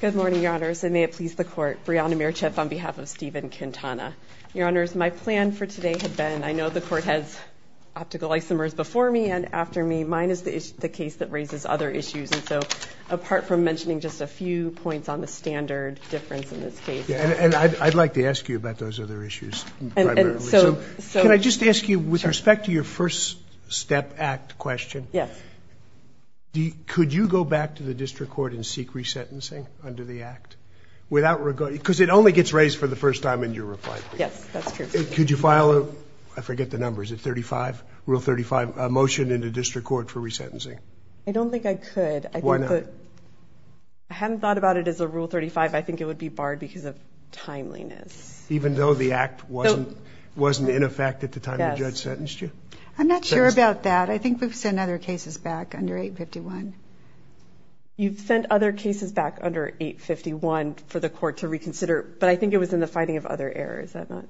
Good morning, Your Honors, and may it please the Court, Brianna Mierchef on behalf of Steven Quintana. Your Honors, my plan for today has been, I know the Court has optical isomers before me and after me, mine is the case that raises other issues, and so apart from mentioning just a few points on the standard difference in this case. And I'd like to ask you about those other issues primarily, so can I just ask you with respect to your first step act question, could you go back to the District Court and seek resentencing under the act? Because it only gets raised for the first time in your Brianna Mierchef Yes, that's true. Steven Quintana Could you file, I forget the number, is it 35, Rule 35, a motion in the District Court for resentencing? Brianna Mierchef I don't think I could. I hadn't thought about it as a Rule 35. I think it would be barred because of timeliness. Steven Quintana Even though the act wasn't in effect at the time the judge sentenced you? Brianna Mierchef I'm not sure about that. I think we've sent other cases back under 851. Judge Cardone You've sent other cases back under 851 for the Court to reconsider, but I think it was in the finding of other errors, is that not? Steven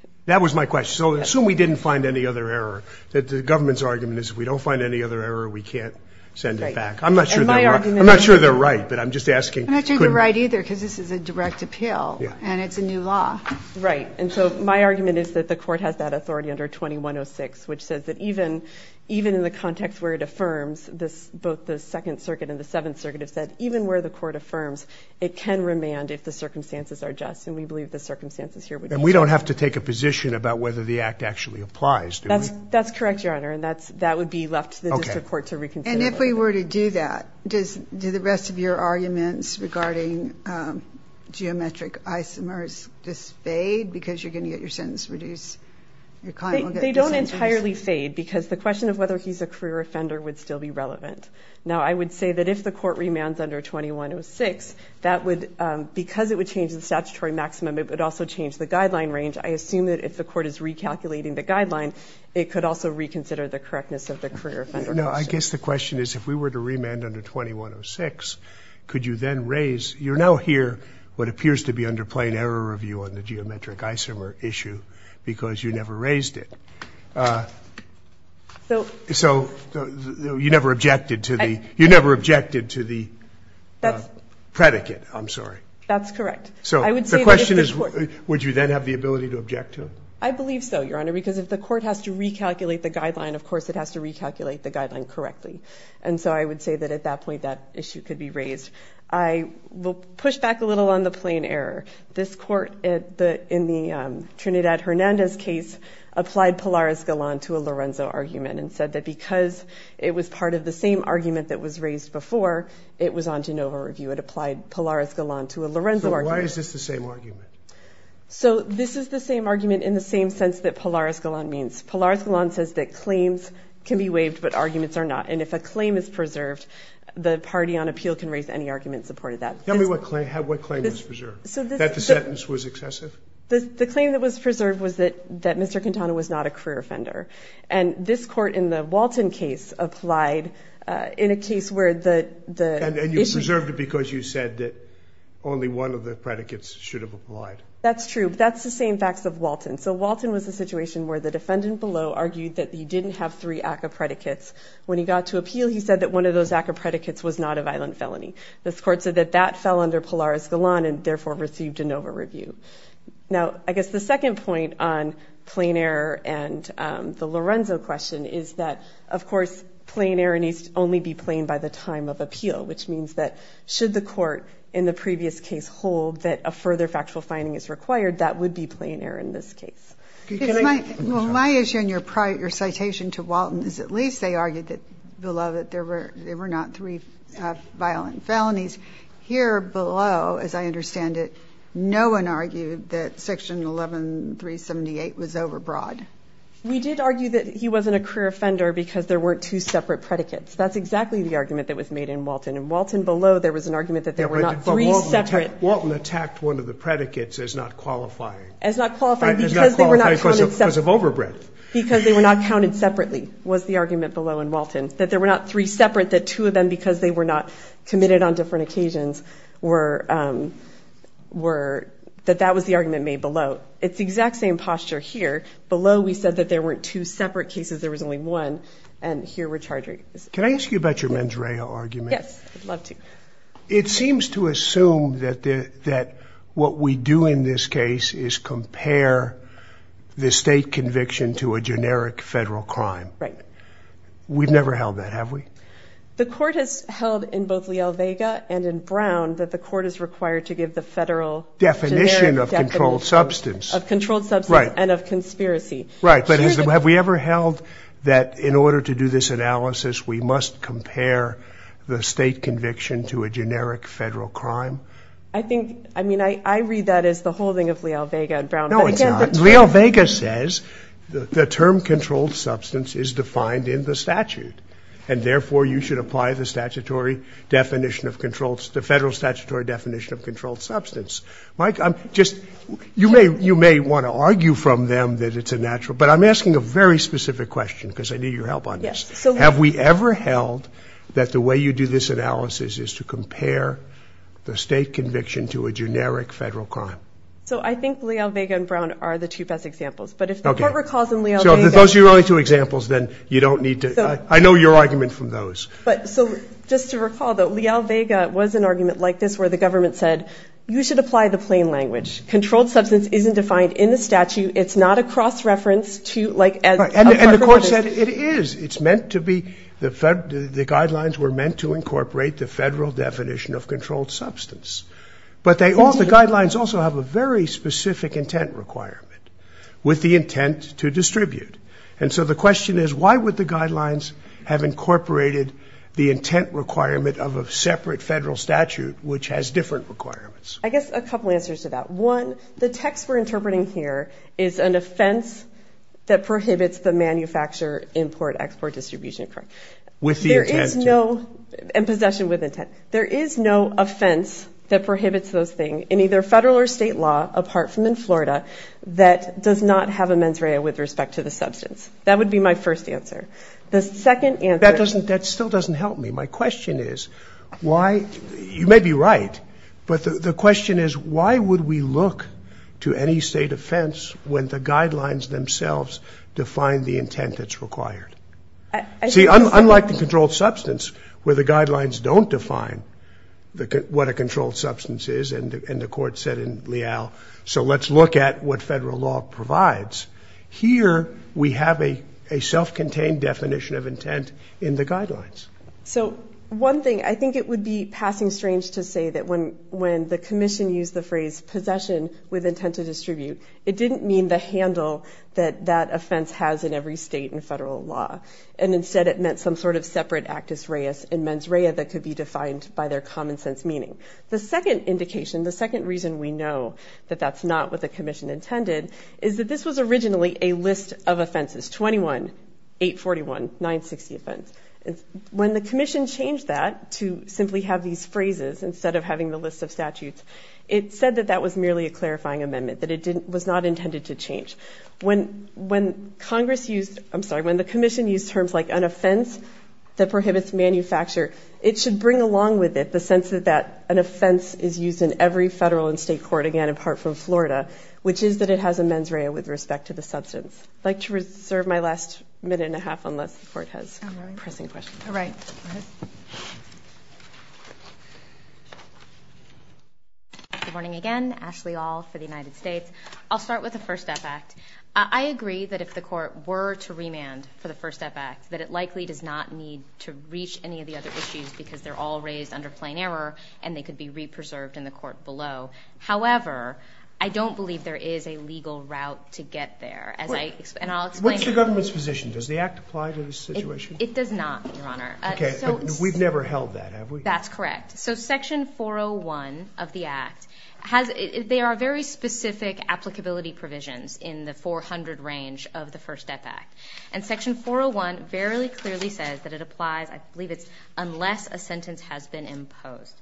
Quintana That was my question. So assume we didn't find any other error. The government's argument is if we don't find any other error, we can't send it back. I'm not sure they're right, but I'm just asking. Brianna Mierchef I'm not sure they're right either because this is a direct appeal and it's a new law. Brianna Mierchef Right. And so my argument is that the Court has that authority under 2106, which says that even in the context where it affirms, both the Second Circuit and the Seventh Circuit have said, even where the Court affirms, it can remand if the circumstances are just. And we believe the circumstances here would be just. Judge Cardone And we don't have to take a position about whether the act actually applies, do we? Brianna Mierchef That's correct, Your Honor, and that would be left to the District Court to reconsider. Judge Cardone And if we were to do that, do the rest of your arguments regarding geometric isomers just fade because you're going to get your Brianna Mierchef They don't entirely fade because the question of whether he's a career offender would still be relevant. Now I would say that if the Court remands under 2106, because it would change the statutory maximum, it would also change the guideline range. I assume that if the Court is recalculating the guideline, it could also reconsider the correctness of the career offender. Judge Cardone No, I guess the question is if we were to remand under 2106, could you then raise, you're now here what appears to be under plain error review on the geometric isomer issue because you never raised it. So you never objected to the, you never objected to the predicate, I'm sorry. Brianna Mierchef That's correct. Judge Cardone So the question is would you then have the ability to object to it? Brianna Mierchef I believe so, Your Honor, because if the Court has to recalculate the guideline, of course it has to recalculate the guideline correctly. And so I would say that at that point that issue could be raised. I will push back a little on the plain error. This Court in the Trinidad-Hernandez case applied Polaris-Galant to a Lorenzo argument and said that because it was part of the same argument that was raised before, it was on Genova review. It applied Polaris-Galant to a Lorenzo argument. Judge Cardone So why is this the same argument? Brianna Mierchef So this is the same argument in the same sense that Polaris-Galant means. Polaris-Galant says that claims can be waived, but arguments are not. And if a claim is preserved, the party on appeal can raise any argument in support of that. Judge Cardone Tell me what claim was preserved, that the sentence was excessive? Brianna Mierchef The claim that was preserved was that Mr. Quintana was not a career offender. And this Court in the Walton case applied in a case where the... Judge Cardone And you preserved it because you said that only one of the predicates should have applied. Brianna Mierchef That's true. That's the same facts of Walton. So Walton was a situation where the defendant below argued that he didn't have three ACCA predicates. When he got to appeal, he said that one of those ACCA predicates was not a violent felony. This Court said that that fell under Polaris-Galant and therefore received a Nova review. Now, I guess the second point on plain error and the Lorenzo question is that, of course, plain error needs to only be plain by the time of appeal, which means that should the court in the previous case hold that a further factual finding is required, that would be the case. Judge Cardone My issue in your citation to Walton is at least they argued that below that there were not three violent felonies. Here below, as I understand it, no one argued that Section 11378 was overbroad. Brianna Mierchef We did argue that he wasn't a career offender because there weren't two separate predicates. That's exactly the argument that was made in Walton. In Walton below, there was an argument that there were not three separate... Judge Cardone Walton attacked one of the predicates as not qualifying. Brianna Mierchef As not qualifying because they were not counted separately. Judge Cardone Because of overbread. Brianna Mierchef Because they were not counted separately was the argument below in Walton. That there were not three separate, that two of them, because they were not committed on different occasions, that that was the argument made below. It's the exact same posture here. Below, we said that there weren't two separate cases, there was only one, and here we're charging... Judge Cardone Can I ask you about your Mandrea argument? Brianna Mierchef Yes, I'd love to. Judge Cardone It seems to assume that what we do in this case is compare the state conviction to a generic federal crime. We've never held that, Brianna Mierchef The court has held in both Liel-Vega and in Brown that the court is required to give the federal... Judge Cardone Definition of controlled substance. Brianna Mierchef Of controlled substance and of conspiracy. Judge Cardone Right, but have we ever held that in order to do this analysis, we must compare the state conviction to a generic federal crime? Brianna Mierchef I think, I mean, I read that as the holding of Liel-Vega and Brown, but I can't... Judge Cardone No, it's not. Liel-Vega says the term controlled substance is defined in the statute, and therefore you should apply the statutory definition of controlled, the federal statutory definition of controlled substance. Mike, I'm just, you may, you may want to argue from them that it's a natural, but I'm asking a very specific question because I need your help on this. Have we ever held that the way you do this analysis is to compare the state conviction to a generic federal crime? Brianna Mierchef So I think Liel-Vega and Brown are the two best examples, but if the court recalls in Liel-Vega... Judge Cardone So if those are your only two examples, then you don't need to, I know your argument from those. Brianna Mierchef But, so just to recall that Liel-Vega was an argument like this where the government said, you should apply the plain language. Controlled substance isn't defined in the statute. It's not a cross-reference to, like a... Judge Cardone And the court said it is. It's meant to be, the guidelines were meant to incorporate the federal definition of controlled substance. But they all, the guidelines also have a very specific intent requirement with the intent to distribute. And so the question is, why would the guidelines have incorporated the intent requirement of a separate federal statute which has different requirements? Brianna Mierchef I guess a couple answers to that. One, the it's the manufacture, import, export, distribution, correct. Judge Cardone With the intent to... Brianna Mierchef There is no, and possession with intent. There is no offense that prohibits those things in either federal or state law, apart from in Florida, that does not have a mens rea with respect to the substance. That would be my first answer. The second answer... Judge Cardone That doesn't, that still doesn't help me. My question is, why, you may be right, but the question is, why would we look to any when the guidelines themselves define the intent that's required? See, unlike the controlled substance, where the guidelines don't define what a controlled substance is, and the court said in Leal, so let's look at what federal law provides. Here, we have a self-contained definition of intent in the guidelines. Brianna Mierchef So, one thing, I think it would be passing strange to say that when the commission used the phrase possession with intent to distribute, it didn't mean the handle that that offense has in every state and federal law, and instead it meant some sort of separate actus reus in mens rea that could be defined by their common sense meaning. The second indication, the second reason we know that that's not what the commission intended, is that this was originally a list of offenses, 21, 841, 960 offense. When the commission changed that to simply have these phrases instead of having the list of statutes, it said that that was merely a clarifying amendment, that it was not intended to change. When Congress used, I'm sorry, when the commission used terms like an offense that prohibits manufacture, it should bring along with it the sense that an offense is used in every federal and state court, again, apart from Florida, which is that it has a mens rea with respect to the substance. I'd like to reserve my last minute and a half unless the court has pressing questions. All right. Good morning again, Ashley All for the United States. I'll start with the First Step Act. I agree that if the court were to remand for the First Step Act, that it likely does not need to reach any of the other issues because they're all raised under plain error, and they could be re-preserved in the court below. However, I don't believe there is a legal route to get there, as I, and I'll explain. What's the government's position? Does the act apply to this situation? It does not, Your Honor. Okay. We've never held that, have we? That's correct. So section 401 of the act has, they are very specific applicability provisions in the 400 range of the First Step Act. And section 401 very clearly says that it applies, I believe it's unless a sentence has been imposed.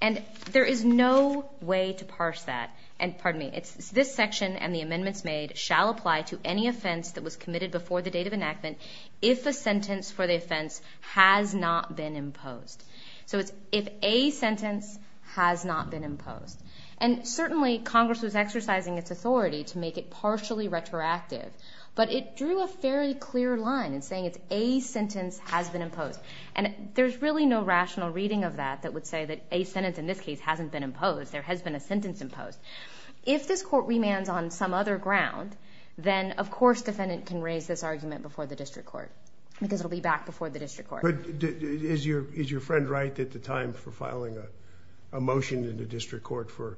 And there is no way to parse that. And pardon me, it's this section and the amendments made shall apply to any offense that was committed before the date of enactment if a sentence for the offense has not been imposed. So it's if a sentence has not been imposed. And certainly Congress was exercising its authority to make it partially retroactive, but it drew a fairly clear line in saying it's a sentence has been imposed. And there's really no rational reading of that that would say that a sentence in this case hasn't been sentence imposed. If this court remands on some other ground, then of course defendant can raise this argument before the district court because it'll be back before the district court. But is your friend right at the time for filing a motion in the district court for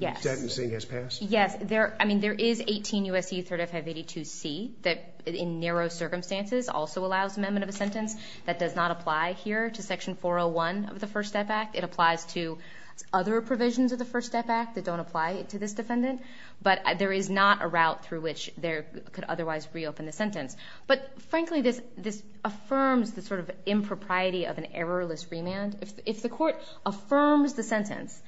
sentencing has passed? Yes. I mean, there is 18 U.S.C. 3rd F. 582 C that in narrow circumstances also allows amendment of a sentence. That does not apply here to section 401 of the First Step Act. It applies to other provisions of the First Step Act that don't apply to this defendant. But there is not a route through which there could otherwise reopen the sentence. But frankly, this affirms the sort of impropriety of an errorless remand. If the court affirms the sentence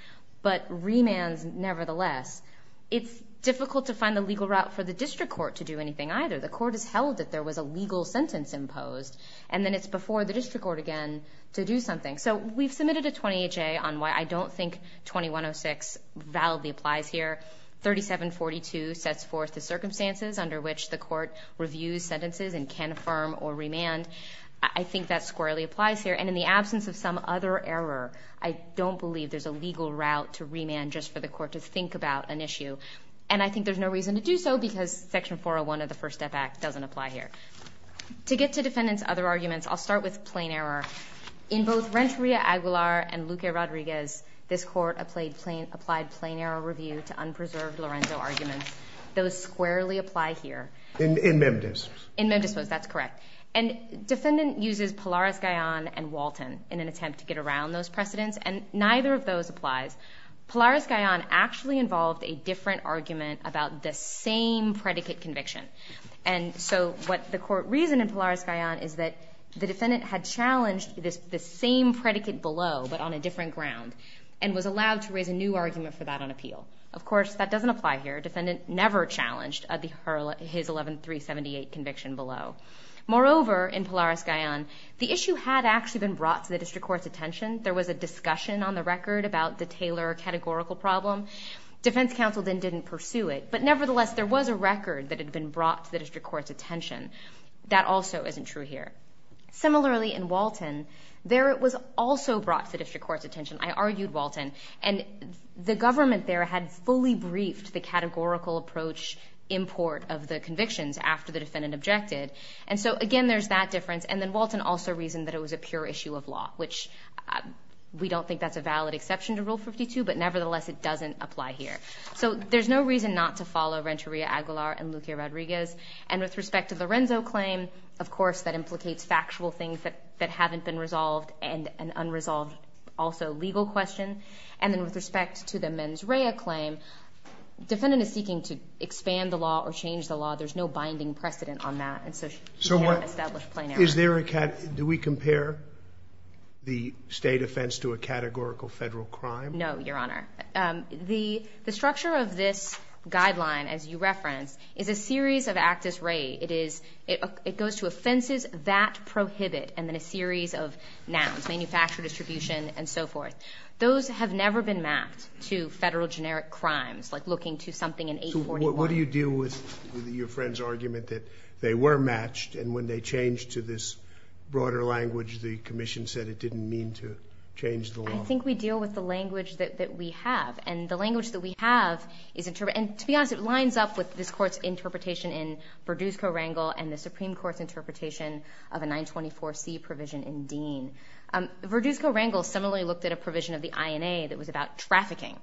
but remands nevertheless, it's difficult to find a legal route for the district court to do anything either. The court has held that there was a legal sentence imposed and then it's before the district court again to do something. So we've submitted a 20HA on why I don't think 2106 validly applies here. 3742 sets forth the circumstances under which the court reviews sentences and can affirm or remand. I think that squarely applies here. And in the absence of some other error, I don't believe there's a legal route to remand just for the court to think about an issue. And I think there's no reason to do so because section 401 of the First Step Act doesn't apply here. To get to defendant's other arguments, I'll start with plain error. In both Renteria-Aguilar and Luque-Rodriguez, this court applied plain error review to unpreserved Lorenzo arguments. Those squarely apply here. In MemDIS. In MemDIS, that's correct. And defendant uses Pilares-Gallon and Walton in an attempt to get around those precedents. And neither of those applies. Pilares-Gallon actually involved a different argument about the same predicate conviction. And so what the court reasoned in Pilares-Gallon is that the defendant had challenged the same predicate below but on a different ground and was allowed to raise a new argument for that on appeal. Of course, that doesn't apply here. Defendant never challenged his 11378 conviction below. Moreover, in Pilares-Gallon, the issue had actually been brought to the district court's attention. There was a discussion on the record about the Taylor categorical problem. Defense counsel then didn't pursue it. But nevertheless, there was a record that had been brought to the district court's attention. That also isn't true here. Similarly, in Walton, there it was also brought to the district court's attention. I argued Walton. And the government there had fully briefed the categorical approach import of the convictions after the defendant objected. And so again, there's that difference. And then Walton also reasoned that it was a pure issue of law, which we don't think that's going to apply here. So there's no reason not to follow Renteria-Aguilar and Luque-Rodriguez. And with respect to Lorenzo's claim, of course, that implicates factual things that haven't been resolved and an unresolved also legal question. And then with respect to the Menz Rhea claim, defendant is seeking to expand the law or change the law. There's no binding precedent on that. And so she can't establish plenary. So is there a – do we compare the state offense to a categorical federal crime? No, Your Honor. The structure of this guideline, as you referenced, is a series of actus rei. It is – it goes to offenses that prohibit and then a series of nouns, manufacture, distribution, and so forth. Those have never been mapped to federal generic crimes, like looking to something in 841. So what do you deal with your friend's argument that they were matched and when they changed to this broader language, the commission said it didn't mean to change the law? I think we deal with the language that we have. And the language that we have is – and to be honest, it lines up with this Court's interpretation in Verduzco-Rangel and the Supreme Court's interpretation of a 924C provision in Dean. Verduzco-Rangel similarly looked at a provision of the INA that was about trafficking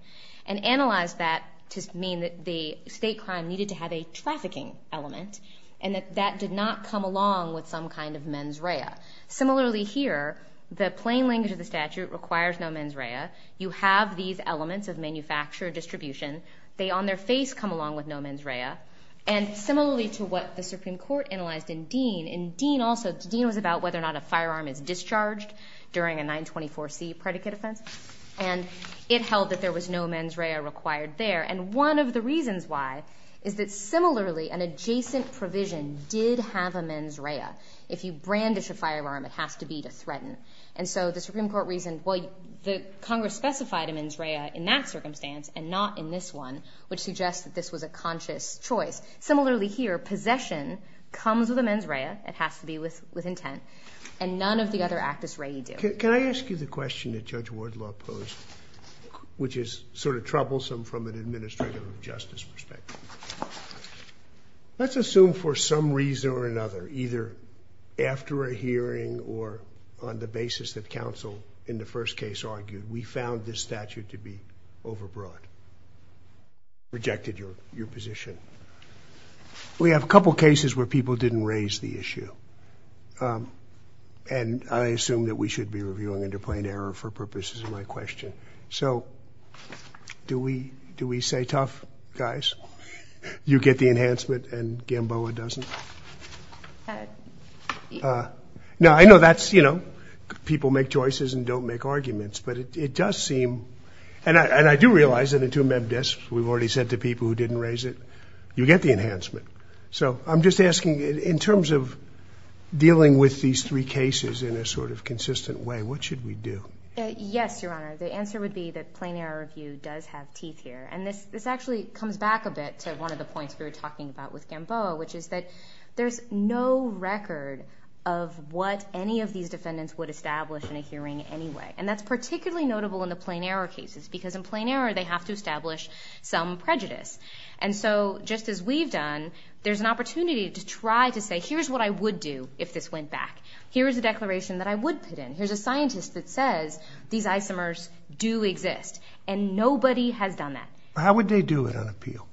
and analyzed that to mean that the state crime needed to have a trafficking element and that that did not come along with some kind of Menz Rhea. Similarly here, the plain language of the statute requires no Menz Rhea. You have these elements of manufacture, distribution. They on their face come along with no Menz Rhea. And similarly to what the Supreme Court analyzed in Dean, in Dean also – Dean was about whether or not a firearm is discharged during a 924C predicate offense. And it held that there was no Menz Rhea required there. And one of the reasons why is that similarly, an adjacent provision did have a Menz Rhea. If you brandish a firearm, it has to be to threaten. And so the Supreme Court reasoned, well, the Congress specified a Menz Rhea in that circumstance and not in this one, which suggests that this was a conscious choice. Similarly here, possession comes with a Menz Rhea. It has to be with intent. And none of the other actus regi do. Can I ask you the question that Judge Wardlaw posed, which is sort of troublesome from an administrative justice perspective. Let's assume for some reason or another, either after a hearing or on the basis that counsel in the first case argued, we found this statute to be overbroad. Rejected your position. We have a couple cases where people didn't raise the issue. And I assume that we should be reviewing under plain error for purposes of my question. So do we, do we say tough guys, you get the enhancement and Gamboa doesn't? Now I know that's, you know, people make choices and don't make arguments, but it does seem and I, and I do realize that in two Meb Disps, we've already said to people who didn't raise it, you get the enhancement. So I'm just asking in terms of dealing with these three cases in a sort of consistent way, what should we do? Yes, Your Honor. The answer would be that plain error review does have teeth here. And this, this actually comes back a bit to one of the points we were talking about with Gamboa, which is that there's no record of what any of these defendants would establish in a hearing anyway. And that's particularly notable in the plain error cases because in plain error, they have to establish some prejudice. And so just as we've done, there's an opportunity to try to say, here's what I would do if this went back. Here's a declaration that I would put in. Here's a scientist that says these isomers do exist. And nobody has done that. How would they do it on appeal?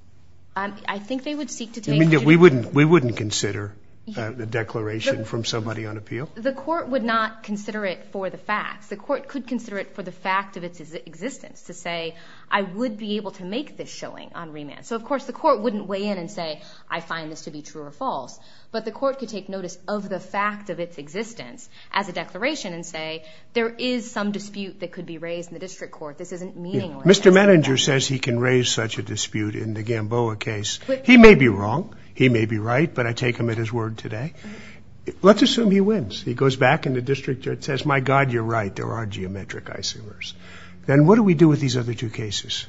I think they would seek to take it. We wouldn't, we wouldn't consider the declaration from somebody on appeal? The court would not consider it for the facts. The court could consider it for the fact of its existence to say, I would be able to make this showing on remand. So of course the court wouldn't weigh in and say, I find this to be true or false. But the court could take notice of the fact of its existence as a declaration and say, there is some dispute that could be raised in the district court. This isn't meaningless. Mr. Manninger says he can raise such a dispute in the Gamboa case. He may be wrong. He may be right. But I take him at his word today. Let's assume he wins. He goes back in the district court and says, my God, you're right. There are geometric isomers. Then what do we do with these other two cases?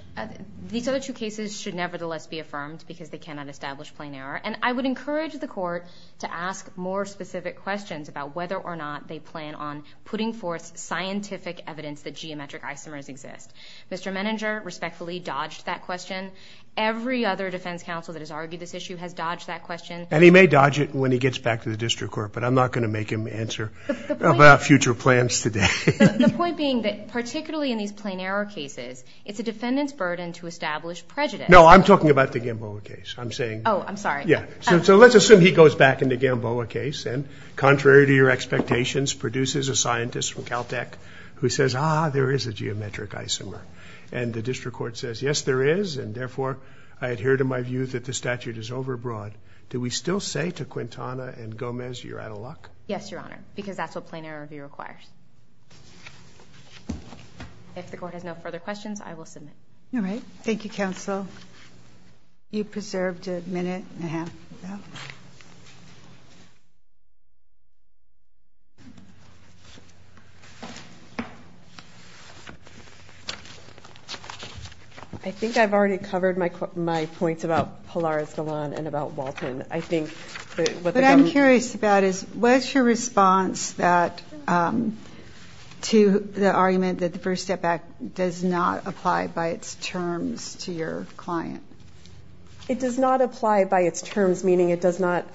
These other two cases should nevertheless be affirmed because they cannot establish plain error. And I would encourage the court to ask more specific questions about whether or not they plan on putting forth scientific evidence that geometric isomers exist. Mr. Manninger respectfully dodged that question. Every other defense counsel that has argued this issue has dodged that question. And he may dodge it when he gets back to the district court, but I'm not going to make him answer about future plans today. The point being that particularly in these plain error cases, it's a defendant's burden to establish prejudice. No, I'm talking about the Gamboa case. I'm saying, oh, I'm sorry. Yeah. So let's assume he goes back in the Gamboa case and contrary to your expectations, produces a scientist from Caltech who says, ah, there is a geometric isomer. And the district court says, yes, there is. And therefore I adhere to my view that the statute is overbroad. Do we still say to Quintana and Gomez, you're out of luck? Yes, Your Honor, because that's what plain error review requires. If the court has no further questions, I will submit. All right. Thank you, counsel. You preserved a minute and a half. I think I've already covered my, my points about Polaris Galan and about Walton. I think what I'm curious about is what's your response that, um, to the argument that the First Step Act does not apply by its terms to your client? It does not apply by its terms, meaning it does not,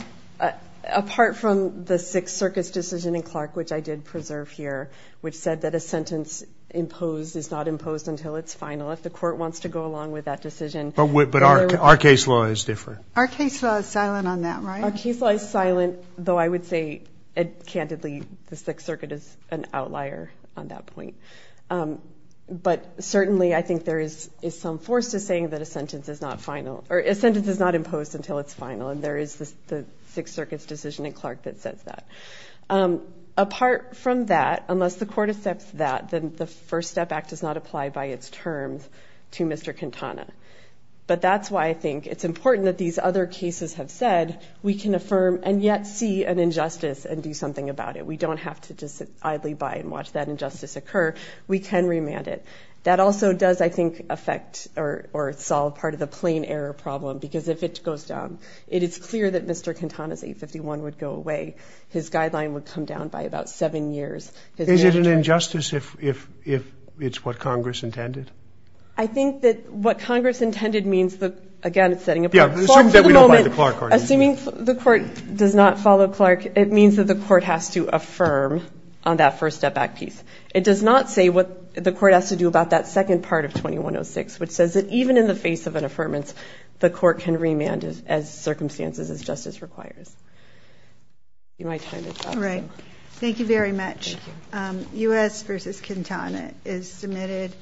apart from the Sixth Circus decision in Clark, which I did preserve here, which said that a sentence imposed is not imposed until it's final. If the court wants to go along with that decision. But our case law is different. Our case law is silent on that, right? Our case law is silent, though I would say, candidly, the Sixth Circuit is an outlier on that point. Um, but certainly I think there is, is some force to saying that a sentence is not final, or a sentence is not imposed until it's final. And there is the Sixth Circuit's decision in Clark that says that. Um, apart from that, unless the court accepts that, then the First Step Act does not apply by its terms to Mr. Quintana. But that's why I think it's important that these other cases have said, we can affirm and yet see an injustice and do something about it. We don't have to just idly by and watch that injustice occur. We can remand it. That also does, I think, affect or, or solve part of the plain error problem because if it goes down, it is clear that Mr. Quintana's 851 would go away. His guideline would come down by about seven years. Is it an injustice if, if, if it's what Congress intended? I think that what Congress intended means that, again, it's setting apart, for the moment, assuming the court does not follow Clark, it means that the court has to affirm on that First Step Act piece. It does not say what the court has to do about that second part of 2106, which says that even in the face of an affirmance, the court can remand it as circumstances as justice requires. All right. Thank you very much. Um, U.S. versus Quintana is submitted.